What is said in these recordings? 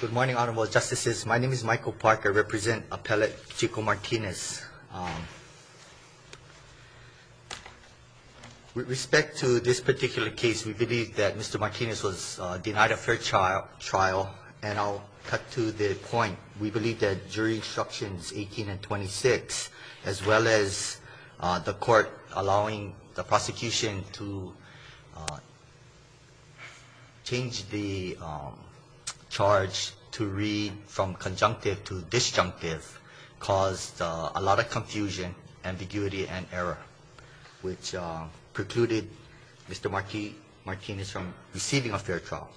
Good morning, Honorable Justices. My name is Michael Parker. I represent Appellate Chico Martinez. With respect to this particular case, we believe that Mr. Martinez was denied a fair trial, and I'll cut to the point. We believe that jury instructions 18 and 26, as well as the court allowing the prosecution to change the charge to read from conjunctive to disjunctive, caused a lot of confusion, ambiguity, and error, which precluded Mr. Martinez from receiving a fair trial.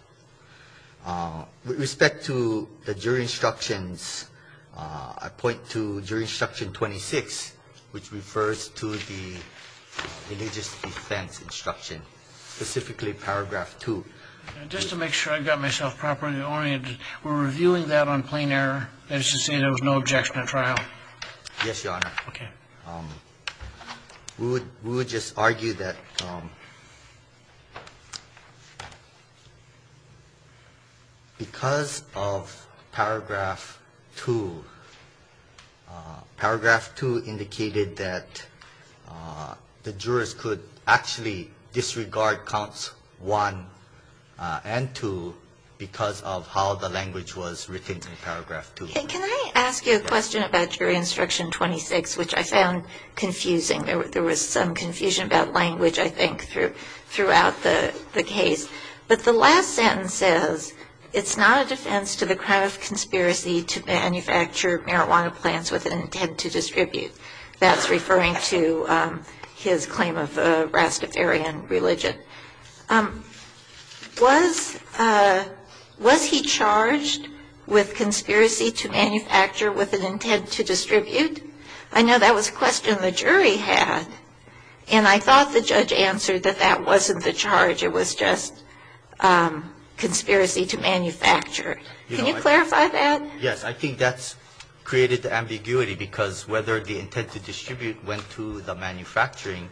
With respect to the jury instructions, I point to jury instruction 26, which refers to the religious defense instruction, specifically paragraph 2. Just to make sure I got myself properly oriented, we're reviewing that on plain error. That is to say there was no objection at trial? Yes, Your Honor. Okay. We would just argue that because of paragraph 2, paragraph 2 indicated that the jurors could actually disregard counts 1 and 2 because of how the language was written in paragraph 2. Can I ask you a question about jury instruction 26, which I found confusing? There was some confusion about language, I think, throughout the case. But the last sentence says, It's not a defense to the crime of conspiracy to manufacture marijuana plants with an intent to distribute. That's referring to his claim of a Rastafarian religion. Was he charged with conspiracy to manufacture with an intent to distribute? I know that was a question the jury had. And I thought the judge answered that that wasn't the charge. It was just conspiracy to manufacture. Can you clarify that? Yes. I think that's created the ambiguity, because whether the intent to distribute went to the manufacturing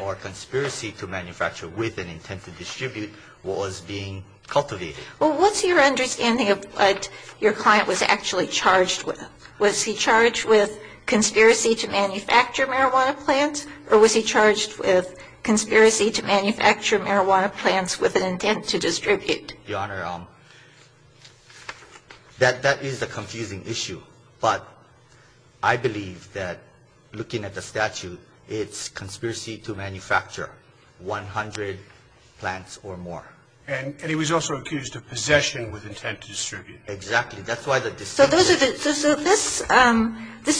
or conspiracy to manufacture with the intent to distribute, what was being cultivated. Well, what's your understanding of what your client was actually charged with? Was he charged with conspiracy to manufacture marijuana plants, or was he charged with conspiracy to manufacture marijuana plants with an intent to distribute? Your Honor, that is a confusing issue. But I believe that, looking at the statute, it's conspiracy to manufacture 100 plants or more. And he was also accused of possession with intent to distribute. Exactly. So this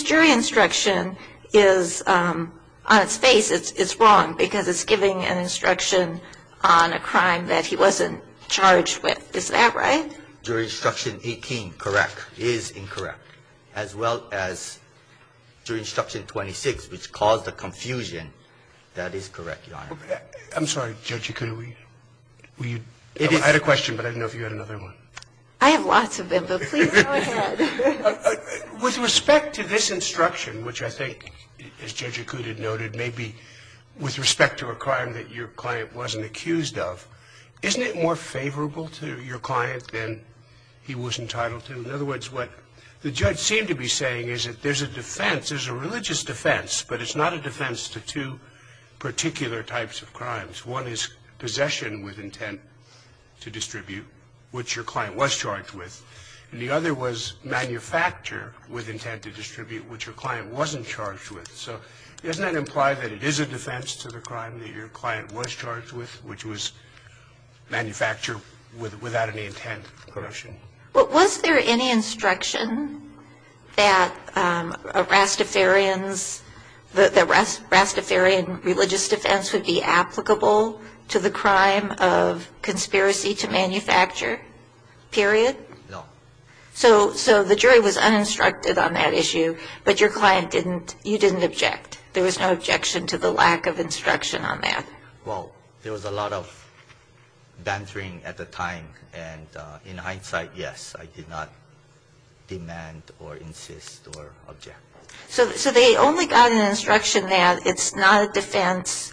jury instruction is, on its face, it's wrong, because it's giving an instruction on a crime that he wasn't charged with. Is that right? Jury instruction 18, correct. Is incorrect. As well as jury instruction 26, which caused the confusion, that is correct, Your Honor. I'm sorry, Judge Ikuda. Were you – I had a question, but I didn't know if you had another one. I have lots of them, but please go ahead. With respect to this instruction, which I think, as Judge Ikuda noted, may be with respect to a crime that your client wasn't accused of, isn't it more favorable to your client than he was entitled to? In other words, what the judge seemed to be saying is that there's a defense, there's a religious defense, but it's not a defense to two particular types of crimes. One is possession with intent to distribute, which your client was charged with, and the other was manufacture with intent to distribute, which your client wasn't charged with. So doesn't that imply that it is a defense to the crime that your client was charged with, which was manufacture without any intent of corruption? Was there any instruction that Rastafarian's – that Rastafarian religious defense would be applicable to the crime of conspiracy to manufacture, period? No. So the jury was uninstructed on that issue, but your client didn't – you didn't object. There was no objection to the lack of instruction on that. Well, there was a lot of bantering at the time, and in hindsight, yes, I did not demand or insist or object. So they only got an instruction that it's not a defense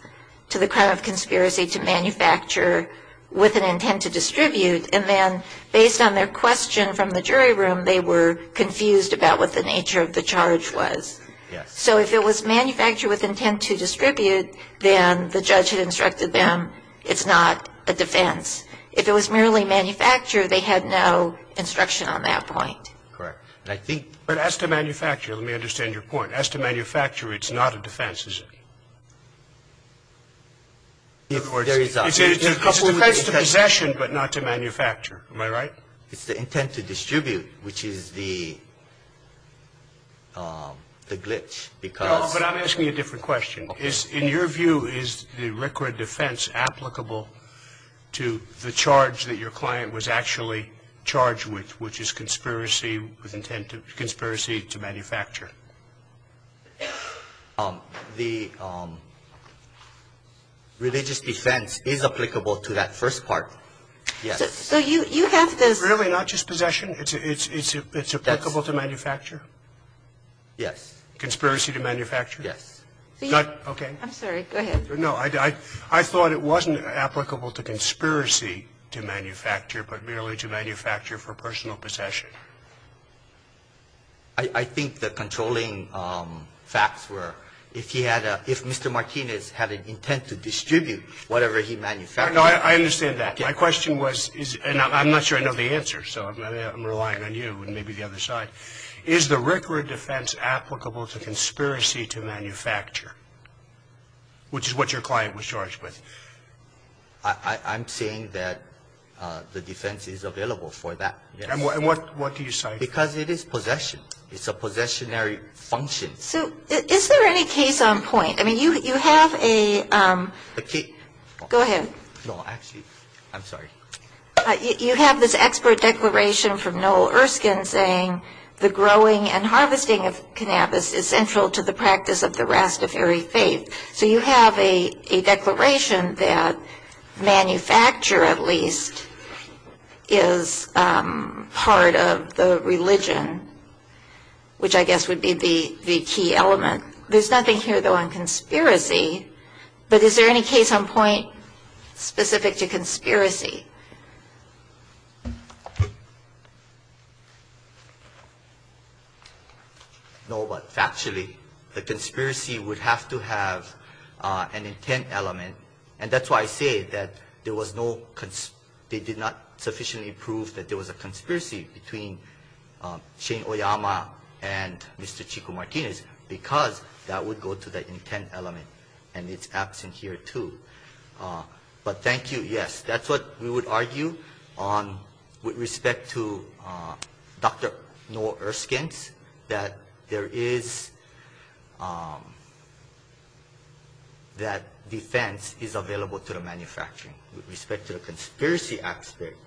to the crime of conspiracy to manufacture with an intent to distribute, and then based on their question from the jury room, they were confused about what the nature of the charge was. Yes. So if it was manufacture with intent to distribute, then the judge had instructed them it's not a defense. If it was merely manufacture, they had no instruction on that point. Correct. But as to manufacture, let me understand your point. As to manufacture, it's not a defense, is it? It's a defense to possession, but not to manufacture. Am I right? It's the intent to distribute, which is the glitch, because – No, but I'm asking a different question. In your view, is the RCRA defense applicable to the charge that your client was actually charged with, which is conspiracy with intent to – conspiracy to manufacture? The religious defense is applicable to that first part. Yes. So you have this – Really, not just possession? It's applicable to manufacture? Yes. Conspiracy to manufacture? Yes. Okay. I'm sorry. Go ahead. No. I thought it wasn't applicable to conspiracy to manufacture, but merely to manufacture for personal possession. I think the controlling facts were, if he had a – if Mr. Martinez had an intent to distribute whatever he manufactured – I understand that. My question was – and I'm not sure I know the answer, so I'm relying on you and maybe the other side. Is the RCRA defense applicable to conspiracy to manufacture, which is what your client was charged with? I'm saying that the defense is available for that, yes. And what do you cite? Because it is possession. It's a possessionary function. So is there any case on point? I mean, you have a – A case – Go ahead. No, actually – I'm sorry. You have this expert declaration from Noel Erskine saying the growing and harvesting of cannabis is central to the practice of the Rastafari faith. So you have a declaration that manufacture, at least, is part of the religion, which I guess would be the key element. There's nothing here, though, on conspiracy. But is there any case on point specific to conspiracy? No, but factually, the conspiracy would have to have an intent element. And that's why I say that there was no – they did not sufficiently prove that there was a conspiracy between Shane Oyama and Mr. Chico Martinez because that would go to the intent element, and it's absent here, too. But thank you, yes. That's what we would argue on with respect to Dr. Noel Erskine, that there is – that defense is available to the manufacturing. With respect to the conspiracy aspect,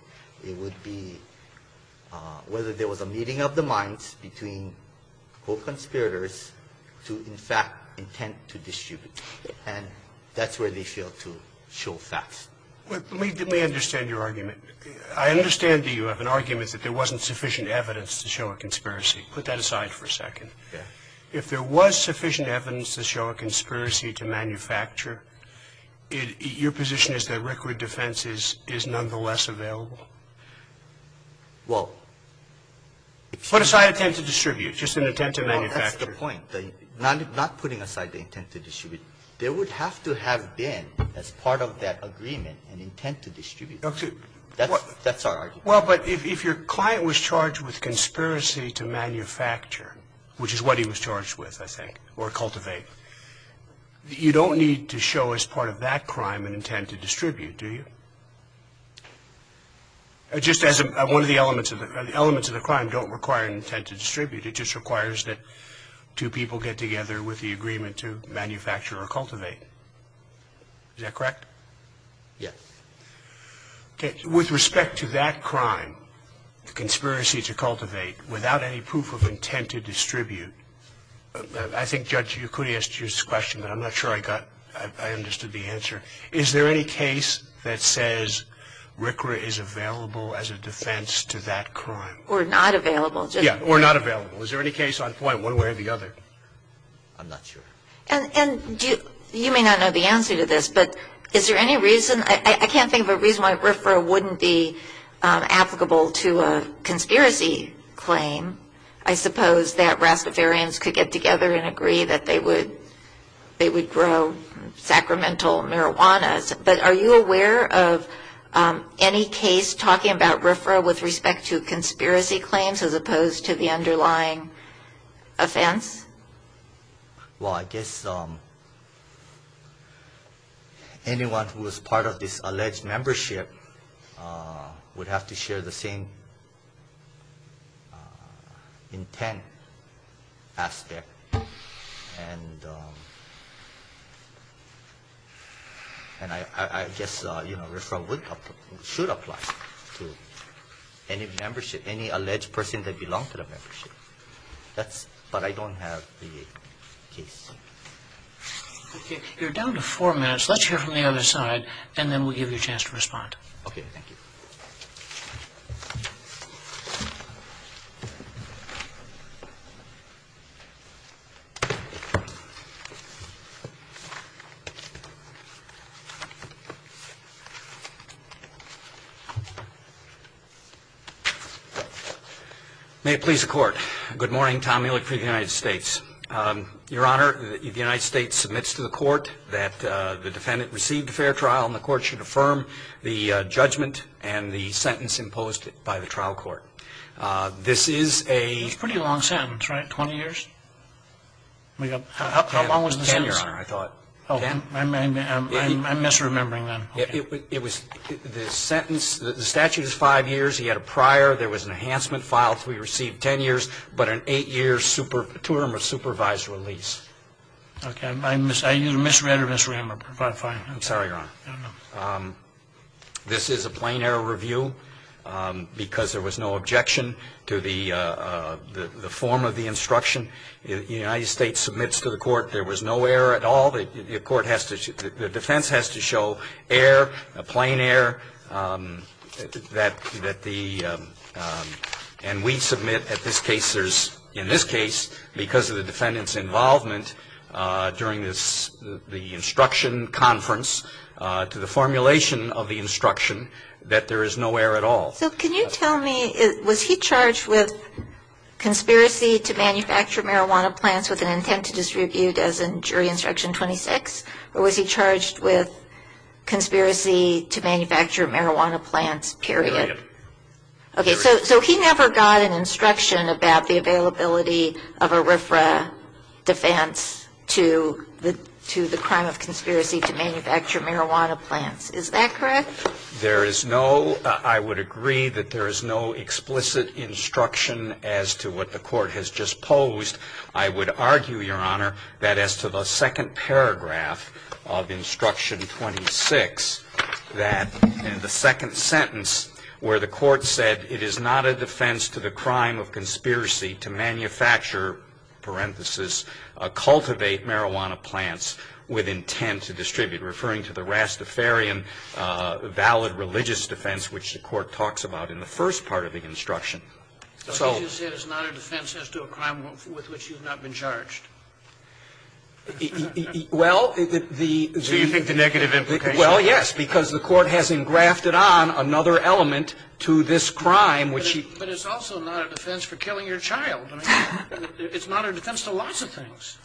it would be whether there was a meeting of the minds between, quote, conspirators to, in fact, intent to distribute. And that's where they fail to show facts. Let me understand your argument. I understand that you have an argument that there wasn't sufficient evidence to show a conspiracy. Put that aside for a second. Yeah. If there was sufficient evidence to show a conspiracy to manufacture, your position is that record defense is nonetheless available? Put aside intent to distribute, just an intent to manufacture. Well, that's the point, not putting aside the intent to distribute. There would have to have been, as part of that agreement, an intent to distribute. That's our argument. Well, but if your client was charged with conspiracy to manufacture, which is what he was charged with, I think, or cultivate, you don't need to show as part of that crime an intent to distribute, do you? Just as one of the elements of the crime don't require an intent to distribute. It just requires that two people get together with the agreement to manufacture or cultivate. Is that correct? Yes. Okay. With respect to that crime, the conspiracy to cultivate, without any proof of intent to distribute, I think, Judge, you could have asked you this question, but I'm not sure I understood the answer. Is there any case that says RCRA is available as a defense to that crime? Or not available. Yeah, or not available. Is there any case on point one way or the other? I'm not sure. And you may not know the answer to this, but is there any reason? I can't think of a reason why RCRA wouldn't be applicable to a conspiracy claim. I suppose that Rastafarians could get together and agree that they would grow sacramental marijuanas. But are you aware of any case talking about RCRA with respect to conspiracy claims as opposed to the underlying offense? Well, I guess anyone who is part of this alleged membership would have to share the same intent aspect. And I guess RCRA should apply to any alleged person that belongs to the membership. But I don't have the case. You're down to four minutes. Let's hear from the other side, and then we'll give you a chance to respond. Okay, thank you. May it please the Court. Good morning. Tom Mueller for the United States. Your Honor, the United States submits to the Court that the defendant received a fair trial, and the Court should affirm the judgment and the sentence imposed by the trial court. This is a pretty long sentence, right, 20 years? How long was the sentence? Ten, Your Honor, I thought. Ten? I'm misremembering then. It was the sentence, the statute is five years. He had a prior. There was an enhancement file, so he received ten years, but an eight-year super, two-term or supervised release. Okay. I either misread or misremembered. Fine. I'm sorry, Your Honor. I don't know. This is a plain error review because there was no objection to the form of the instruction. The United States submits to the Court there was no error at all. The defense has to show error, plain error, and we submit in this case because of the defendant's involvement during the instruction conference to the formulation of the instruction that there is no error at all. So can you tell me, was he charged with conspiracy to manufacture marijuana plants with an intent to distribute as in jury instruction 26, or was he charged with conspiracy to manufacture marijuana plants, period? Period. Okay. So he never got an instruction about the availability of a RFRA defense to the crime of conspiracy to manufacture marijuana plants. Is that correct? There is no, I would agree that there is no explicit instruction as to what the Court has just posed. I would argue, Your Honor, that as to the second paragraph of instruction 26, that in the second sentence where the Court said it is not a defense to the crime of conspiracy to manufacture, parenthesis, cultivate marijuana plants with intent to manufacture, there is no valid religious defense which the Court talks about in the first part of the instruction. So did you say it's not a defense as to a crime with which you have not been charged? Well, the the. So you think the negative implication. Well, yes, because the Court has engrafted on another element to this crime which he. But it's also not a defense for killing your child. I mean, it's not a defense to lots of things.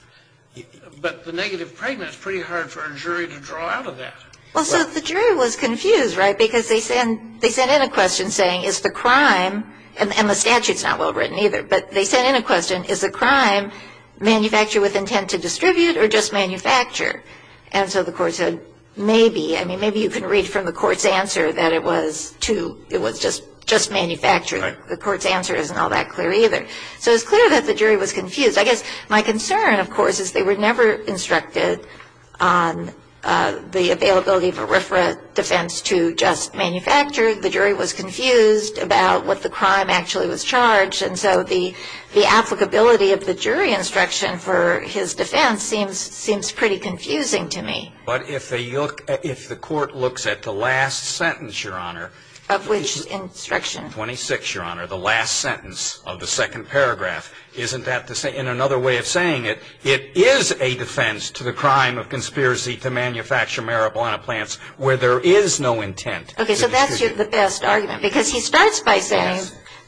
But the negative pregnancy is pretty hard for a jury to draw out of that. Well, so the jury was confused, right? Because they sent in a question saying, is the crime, and the statute is not well written either, but they sent in a question, is the crime manufactured with intent to distribute or just manufacture? And so the Court said, maybe. I mean, maybe you can read from the Court's answer that it was just manufacturing. The Court's answer isn't all that clear either. So it's clear that the jury was confused. I guess my concern, of course, is they were never instructed on the availability of a RFRA defense to just manufacture. The jury was confused about what the crime actually was charged. And so the applicability of the jury instruction for his defense seems pretty confusing to me. But if the Court looks at the last sentence, Your Honor. Of which instruction? 26, Your Honor, the last sentence of the second paragraph. Isn't that the same? In another way of saying it, it is a defense to the crime of conspiracy to manufacture marijuana plants where there is no intent to distribute. Okay. So that's the best argument. Because he starts by saying,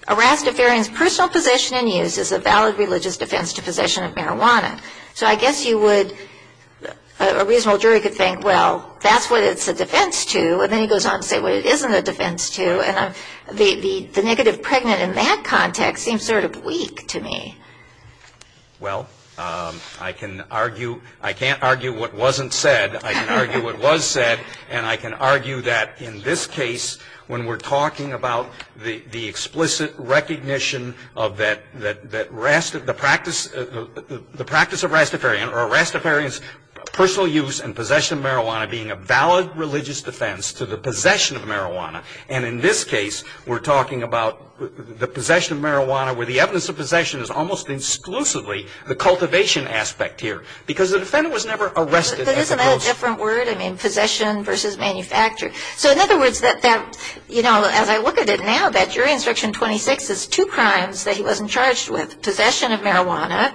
a Rastafarian's personal possession and use is a valid religious defense to possession of marijuana. So I guess you would, a reasonable jury could think, well, that's what it's a defense to. And then he goes on to say what it isn't a defense to. The negative pregnant in that context seems sort of weak to me. Well, I can argue, I can't argue what wasn't said. I can argue what was said. And I can argue that in this case, when we're talking about the explicit recognition of that Rastafarian's personal use and possession of marijuana being a valid religious defense to the possession of marijuana. And in this case, we're talking about the possession of marijuana where the evidence of possession is almost exclusively the cultivation aspect here. Because the defendant was never arrested. Isn't that a different word? I mean, possession versus manufacture. So in other words, that, you know, as I look at it now, that jury instruction 26 is two crimes that he wasn't charged with. Possession of marijuana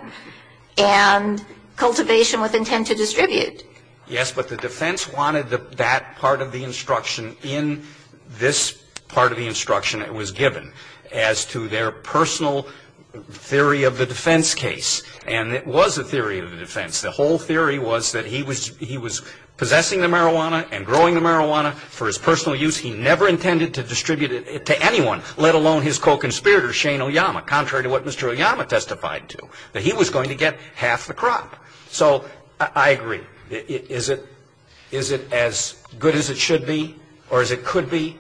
and cultivation with intent to distribute. Yes, but the defense wanted that part of the instruction in this part of the instruction that was given as to their personal theory of the defense case. And it was a theory of the defense. The whole theory was that he was possessing the marijuana and growing the marijuana for his personal use. He never intended to distribute it to anyone, let alone his co-conspirator, Shane Oyama, contrary to what Mr. Oyama testified to, that he was going to get half the crop. So I agree. Is it as good as it should be or as it could be?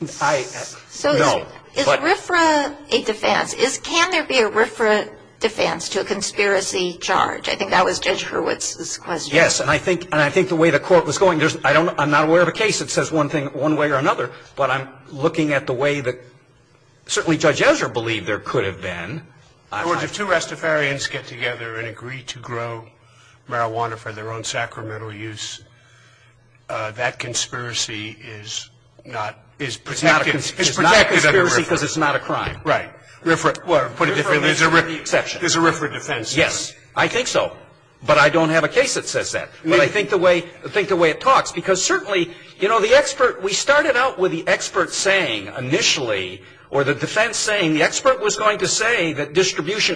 No. Is RFRA a defense? Can there be a RFRA defense to a conspiracy charge? I think that was Judge Hurwitz's question. Yes, and I think the way the Court was going, I'm not aware of a case that says one thing one way or another, but I'm looking at the way that certainly Judge Ezra believed there could have been. In other words, if two Rastafarians get together and agree to grow marijuana for their own sacramental use, that conspiracy is not a conspiracy because it's not a crime. Right. Well, to put it differently, there's a RFRA defense. Yes, I think so. But I don't have a case that says that. But I think the way it talks, because certainly, you know, we started out with the expert saying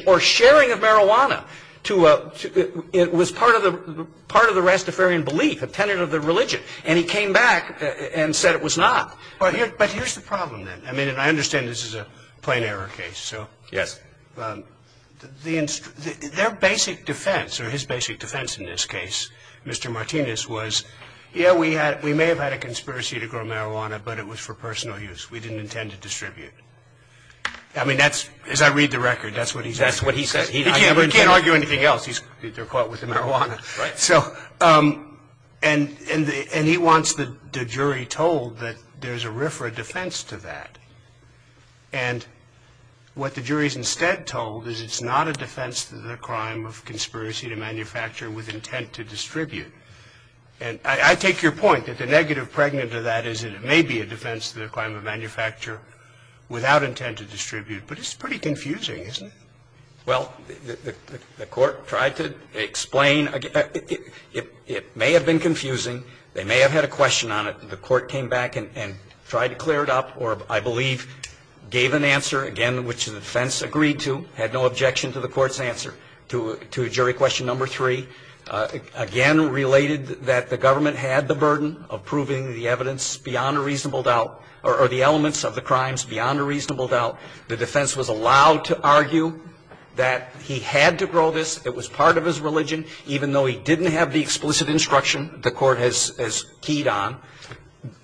or sharing of marijuana was part of the Rastafarian belief, a tenet of the religion. And he came back and said it was not. But here's the problem, then. I mean, and I understand this is a plain error case. Yes. Their basic defense, or his basic defense in this case, Mr. Martinez, was, yeah, we may have had a conspiracy to grow marijuana, but it was for personal use. We didn't intend to distribute. I mean, that's, as I read the record, that's what he says. That's what he says. He can't argue anything else. They're caught with the marijuana. Right. So, and he wants the jury told that there's a RFRA defense to that. And what the jury is instead told is it's not a defense to the crime of conspiracy to manufacture with intent to distribute. And I take your point that the negative pregnant to that is it may be a defense to the crime of manufacture without intent to distribute. But it's pretty confusing, isn't it? Well, the court tried to explain. It may have been confusing. They may have had a question on it. The court came back and tried to clear it up or, I believe, gave an answer, again, which the defense agreed to, had no objection to the court's answer to jury question number three. Again, related that the government had the burden of proving the evidence beyond a reasonable doubt or the elements of the crimes beyond a reasonable doubt. The defense was allowed to argue that he had to grow this. It was part of his religion, even though he didn't have the explicit instruction the court has keyed on,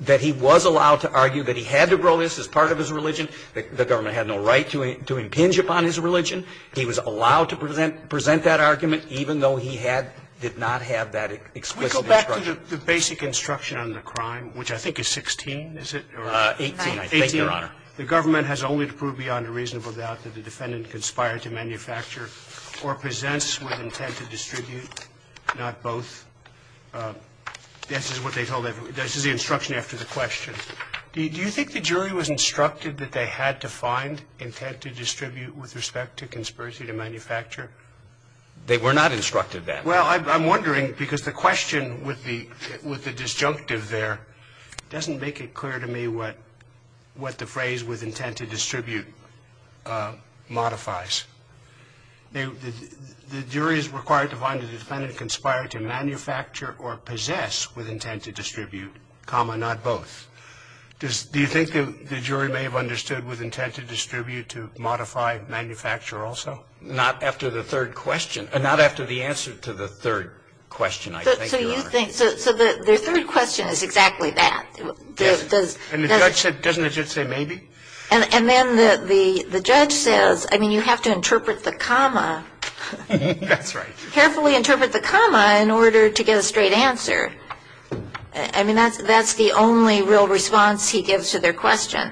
that he was allowed to argue that he had to grow this as part of his religion. The government had no right to impinge upon his religion. He was allowed to present that argument, even though he had, did not have that explicit instruction. We go back to the basic instruction on the crime, which I think is 16, is it? 18. I think, Your Honor. The government has only to prove beyond a reasonable doubt that the defendant conspired to manufacture or presents with intent to distribute, not both. This is what they told everybody. This is the instruction after the question. Do you think the jury was instructed that they had to find intent to distribute with respect to conspiracy to manufacture? They were not instructed that. Well, I'm wondering, because the question with the disjunctive there doesn't make it clear to me what the phrase with intent to distribute modifies. The jury is required to find the defendant conspired to manufacture or possess with intent to distribute, comma, not both. Do you think the jury may have understood with intent to distribute to modify manufacture also? Well, not after the third question. Not after the answer to the third question, I think, Your Honor. So you think, so the third question is exactly that. And the judge said, doesn't the judge say maybe? And then the judge says, I mean, you have to interpret the comma. That's right. Carefully interpret the comma in order to get a straight answer. I mean, that's the only real response he gives to their question.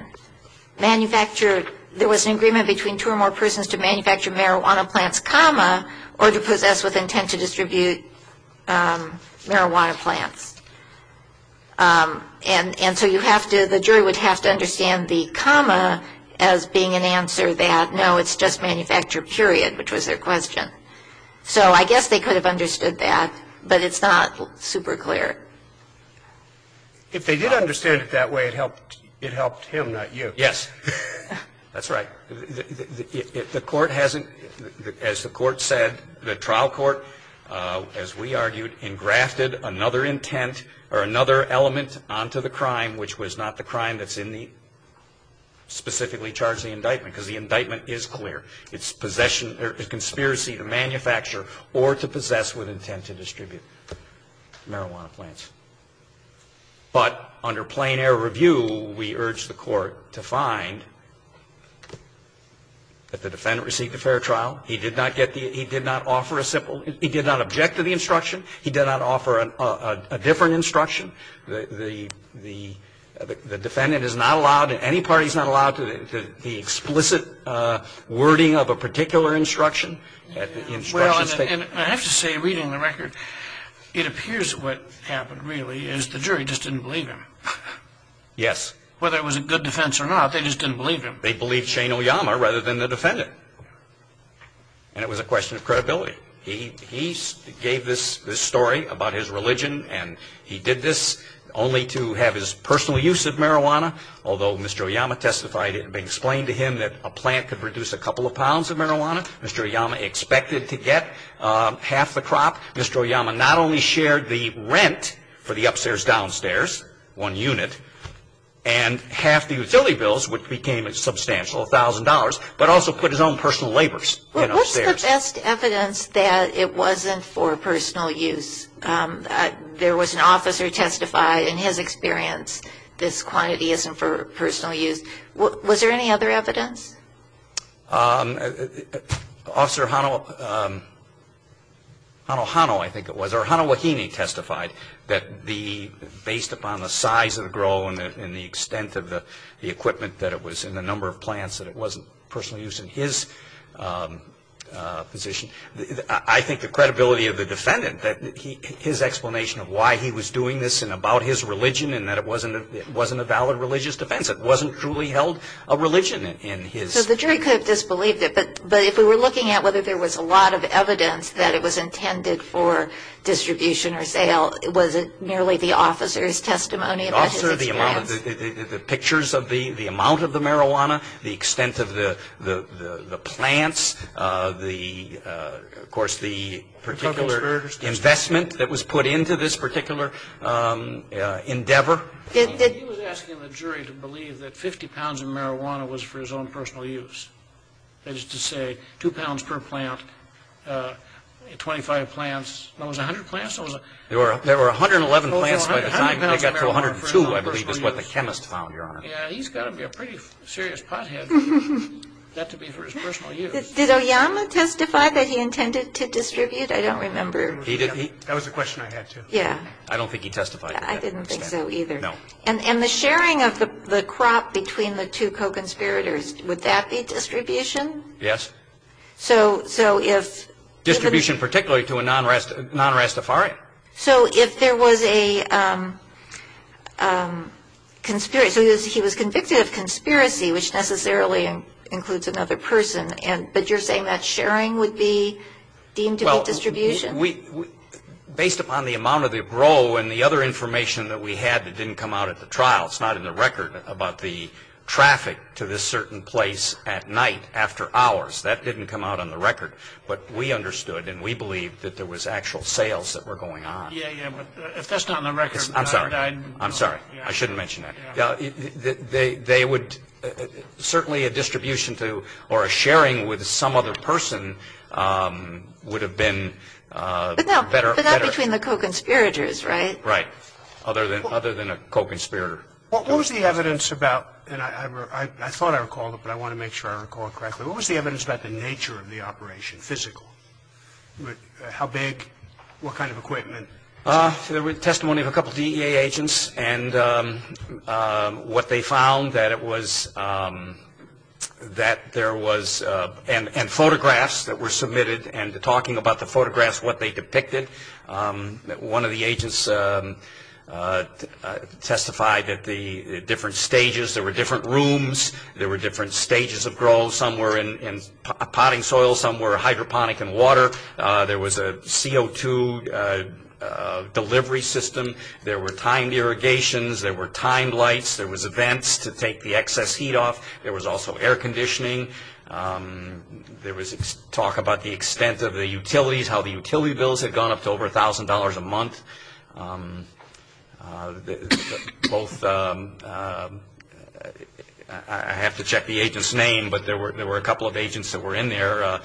Manufactured, there was an agreement between two or more persons to manufacture marijuana plants, comma, or to possess with intent to distribute marijuana plants. And so you have to, the jury would have to understand the comma as being an answer that, no, it's just manufacture, period, which was their question. So I guess they could have understood that, but it's not super clear. If they did understand it that way, it helped him, not you. Yes. That's right. The court hasn't, as the court said, the trial court, as we argued, engrafted another intent or another element onto the crime, which was not the crime that's in the specifically charged indictment, because the indictment is clear. It's possession or conspiracy to manufacture or to possess with intent to distribute marijuana plants. But under plain air review, we urge the court to find that the defendant received a fair trial. He did not get the he did not offer a simple, he did not object to the instruction. He did not offer a different instruction. The defendant is not allowed, in any part, he's not allowed to, the explicit wording of a particular instruction. Well, I have to say, reading the record, it appears what happened really is the jury just didn't believe him. Yes. Whether it was a good defense or not, they just didn't believe him. They believed Shane Oyama rather than the defendant. And it was a question of credibility. He gave this story about his religion, and he did this only to have his personal use of marijuana, although Mr. Oyama testified, it had been explained to him that a plant could reduce a couple of pounds of marijuana. Mr. Oyama expected to get half the crop. Mr. Oyama not only shared the rent for the upstairs-downstairs, one unit, and half the utility bills, which became a substantial $1,000, but also put his own personal labors in upstairs. What's the best evidence that it wasn't for personal use? There was an officer who testified in his experience this quantity isn't for personal use. Was there any other evidence? Officer Hanohano, I think it was, or Hanohahene testified that based upon the size of the grow and the extent of the equipment that it was in the number of plants that it wasn't personal use in his position, I think the credibility of the defendant, his explanation of why he was doing this and about his religion and that it wasn't a valid religious defense, it wasn't truly held a religion in his. So the jury could have disbelieved it, but if we were looking at whether there was a lot of evidence that it was intended for distribution or sale, was it merely the officer's testimony about his experience? The officer, the pictures of the amount of the marijuana, the extent of the plants, the, of course, the particular investment that was put into this particular endeavor. He was asking the jury to believe that 50 pounds of marijuana was for his own personal use. That is to say, 2 pounds per plant, 25 plants, what was it, 100 plants? There were 111 plants by the time it got to 102, I believe, is what the chemist found, Your Honor. Yeah, he's got to be a pretty serious pothead for that to be for his personal use. Did Oyama testify that he intended to distribute? I don't remember. That was a question I had, too. Yeah. I don't think he testified. I didn't think so either. No. And the sharing of the crop between the two co-conspirators, would that be distribution? Yes. So if the ---- Distribution particularly to a non-Rastafarian. So if there was a conspiracy, so he was convicted of conspiracy, which necessarily includes another person, but you're saying that sharing would be deemed to be distribution? Based upon the amount of the row and the other information that we had that didn't come out at the trial, it's not in the record about the traffic to this certain place at night after hours. That didn't come out on the record. But we understood and we believed that there was actual sales that were going on. Yeah, yeah. But if that's not on the record ---- I'm sorry. I'm sorry. I shouldn't mention that. They would certainly a distribution to or a sharing with some other person would have been better. But not between the co-conspirators, right? Right. Other than a co-conspirator. What was the evidence about? And I thought I recalled it, but I want to make sure I recall it correctly. What was the evidence about the nature of the operation, physical? How big? What kind of equipment? There was testimony of a couple DEA agents and what they found, that it was and photographs that were submitted and talking about the photographs, what they depicted. One of the agents testified at the different stages. There were different rooms. There were different stages of growth. Some were in potting soil. Some were hydroponic in water. There was a CO2 delivery system. There were timed irrigations. There were timed lights. There was vents to take the excess heat off. There was also air conditioning. There was talk about the extent of the utilities, how the utility bills had gone up to over $1,000 a month. Both, I have to check the agent's name, but there were a couple of agents that were in there.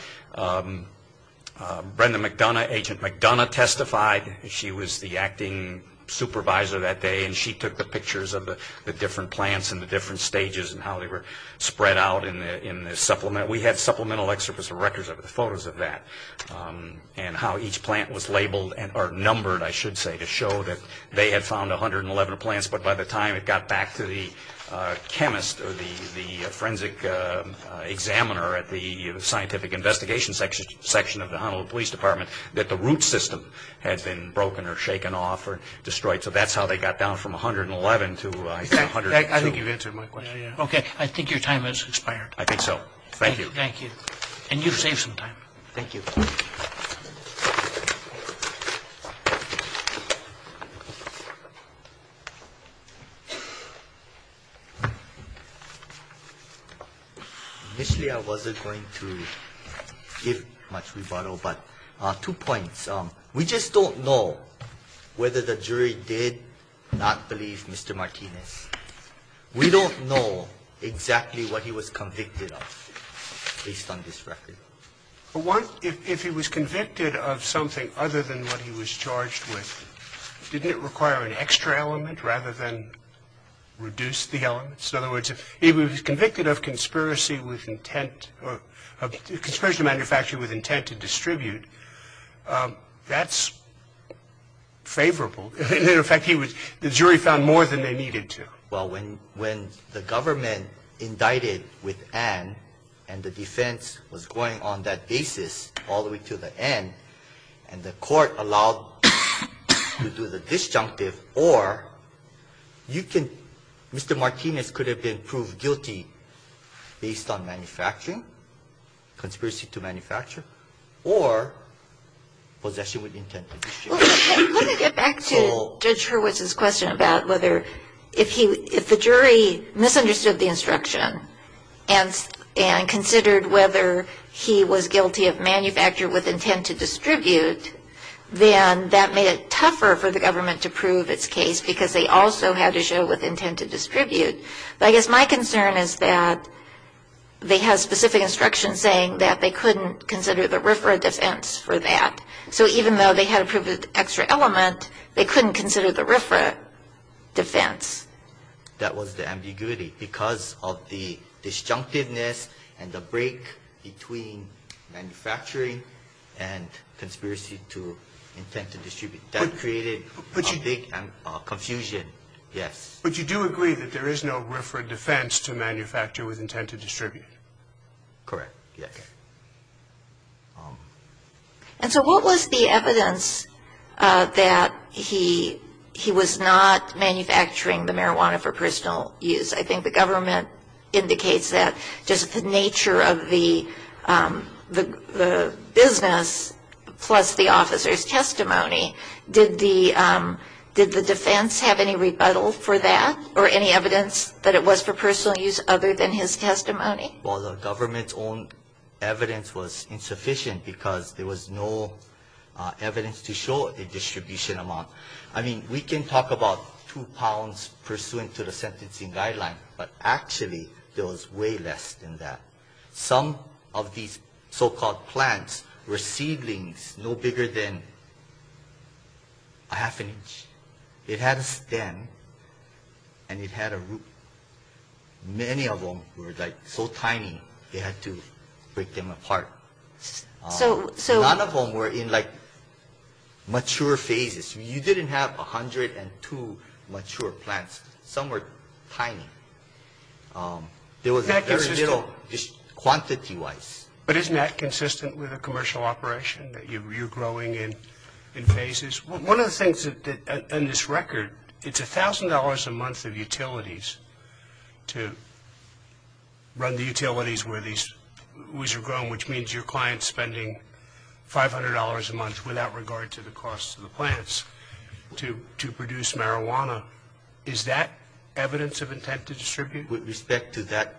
Brenda McDonough, Agent McDonough, testified. She was the acting supervisor that day, and she took the pictures of the different plants and the different stages and how they were spread out in the supplement. We had supplemental excerpts of records of the photos of that and how each plant was labeled or numbered, I should say, to show that they had found 111 plants, but by the time it got back to the chemist or the forensic examiner at the scientific investigation section of the Honolulu Police Department that the root system had been broken or shaken off or destroyed. So that's how they got down from 111 to 102. I think you've answered my question. Okay. I think your time has expired. I think so. Thank you. Thank you. And you've saved some time. Thank you. Initially, I wasn't going to give much rebuttal, but two points. One is we just don't know whether the jury did not believe Mr. Martinez. We don't know exactly what he was convicted of based on this record. For one, if he was convicted of something other than what he was charged with, didn't it require an extra element rather than reduce the elements? In other words, if he was convicted of conspiracy with intent or conspiracy to manufacture with intent to distribute, that's favorable. In fact, the jury found more than they needed to. Well, when the government indicted with an and the defense was going on that basis all the way to the end and the court allowed to do the disjunctive, or you can Mr. Martinez could have been proved guilty based on manufacturing, conspiracy to manufacture, or possession with intent to distribute. Well, let me get back to Judge Hurwitz's question about whether if the jury misunderstood the instruction and considered whether he was guilty of manufacture with intent to distribute, then that made it tougher for the government to prove its case because I guess my concern is that they have specific instructions saying that they couldn't consider the RFRA defense for that. So even though they had to prove the extra element, they couldn't consider the RFRA defense. That was the ambiguity because of the disjunctiveness and the break between manufacturing and conspiracy to intent to distribute. That created a big confusion, yes. But you do agree that there is no RFRA defense to manufacture with intent to distribute? Correct, yes. And so what was the evidence that he was not manufacturing the marijuana for personal use? I think the government indicates that just the nature of the business plus the officer's testimony. Did the defense have any rebuttal for that or any evidence that it was for personal use other than his testimony? Well, the government's own evidence was insufficient because there was no evidence to show a distribution amount. I mean, we can talk about two pounds pursuant to the sentencing guideline, but actually there was way less than that. Some of these so-called plants were seedlings no bigger than a half an inch. It had a stem and it had a root. Many of them were like so tiny they had to break them apart. None of them were in like mature phases. You didn't have 102 mature plants. Some were tiny. There was very little quantity-wise. But isn't that consistent with a commercial operation, that you're growing in phases? One of the things on this record, it's $1,000 a month of utilities to run the utilities where these weeds are grown, which means your client's spending $500 a month without regard to the cost of the plants to produce marijuana. Is that evidence of intent to distribute? With respect to that,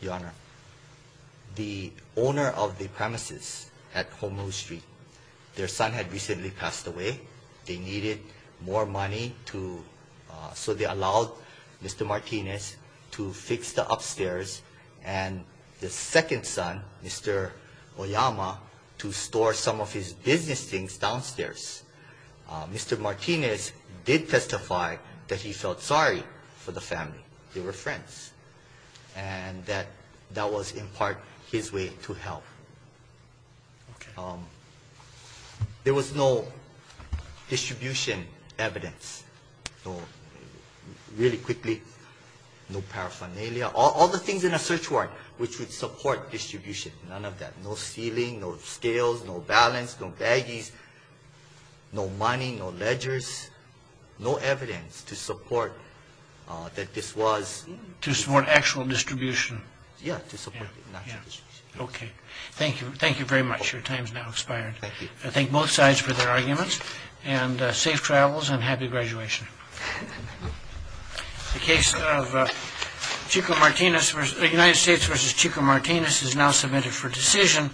Your Honor, the owner of the premises at Home Road Street, their son had recently passed away. They needed more money to so they allowed Mr. Martinez to fix the upstairs and the second son, Mr. Oyama, to store some of his business things downstairs. Mr. Martinez did testify that he felt sorry for the family. They were friends. And that that was in part his way to help. There was no distribution evidence. Really quickly, no paraphernalia. All the things in a search warrant which would support distribution, none of that. No ceiling, no scales, no balance, no baggies, no money, no ledgers, no evidence to support that this was To support actual distribution. Yeah, to support it. Okay. Thank you. Thank you very much. Your time's now expired. Thank you. I thank both sides for their arguments and safe travels and happy graduation. The case of Chico Martinez versus United States versus Chico Martinez is now submitted for decision.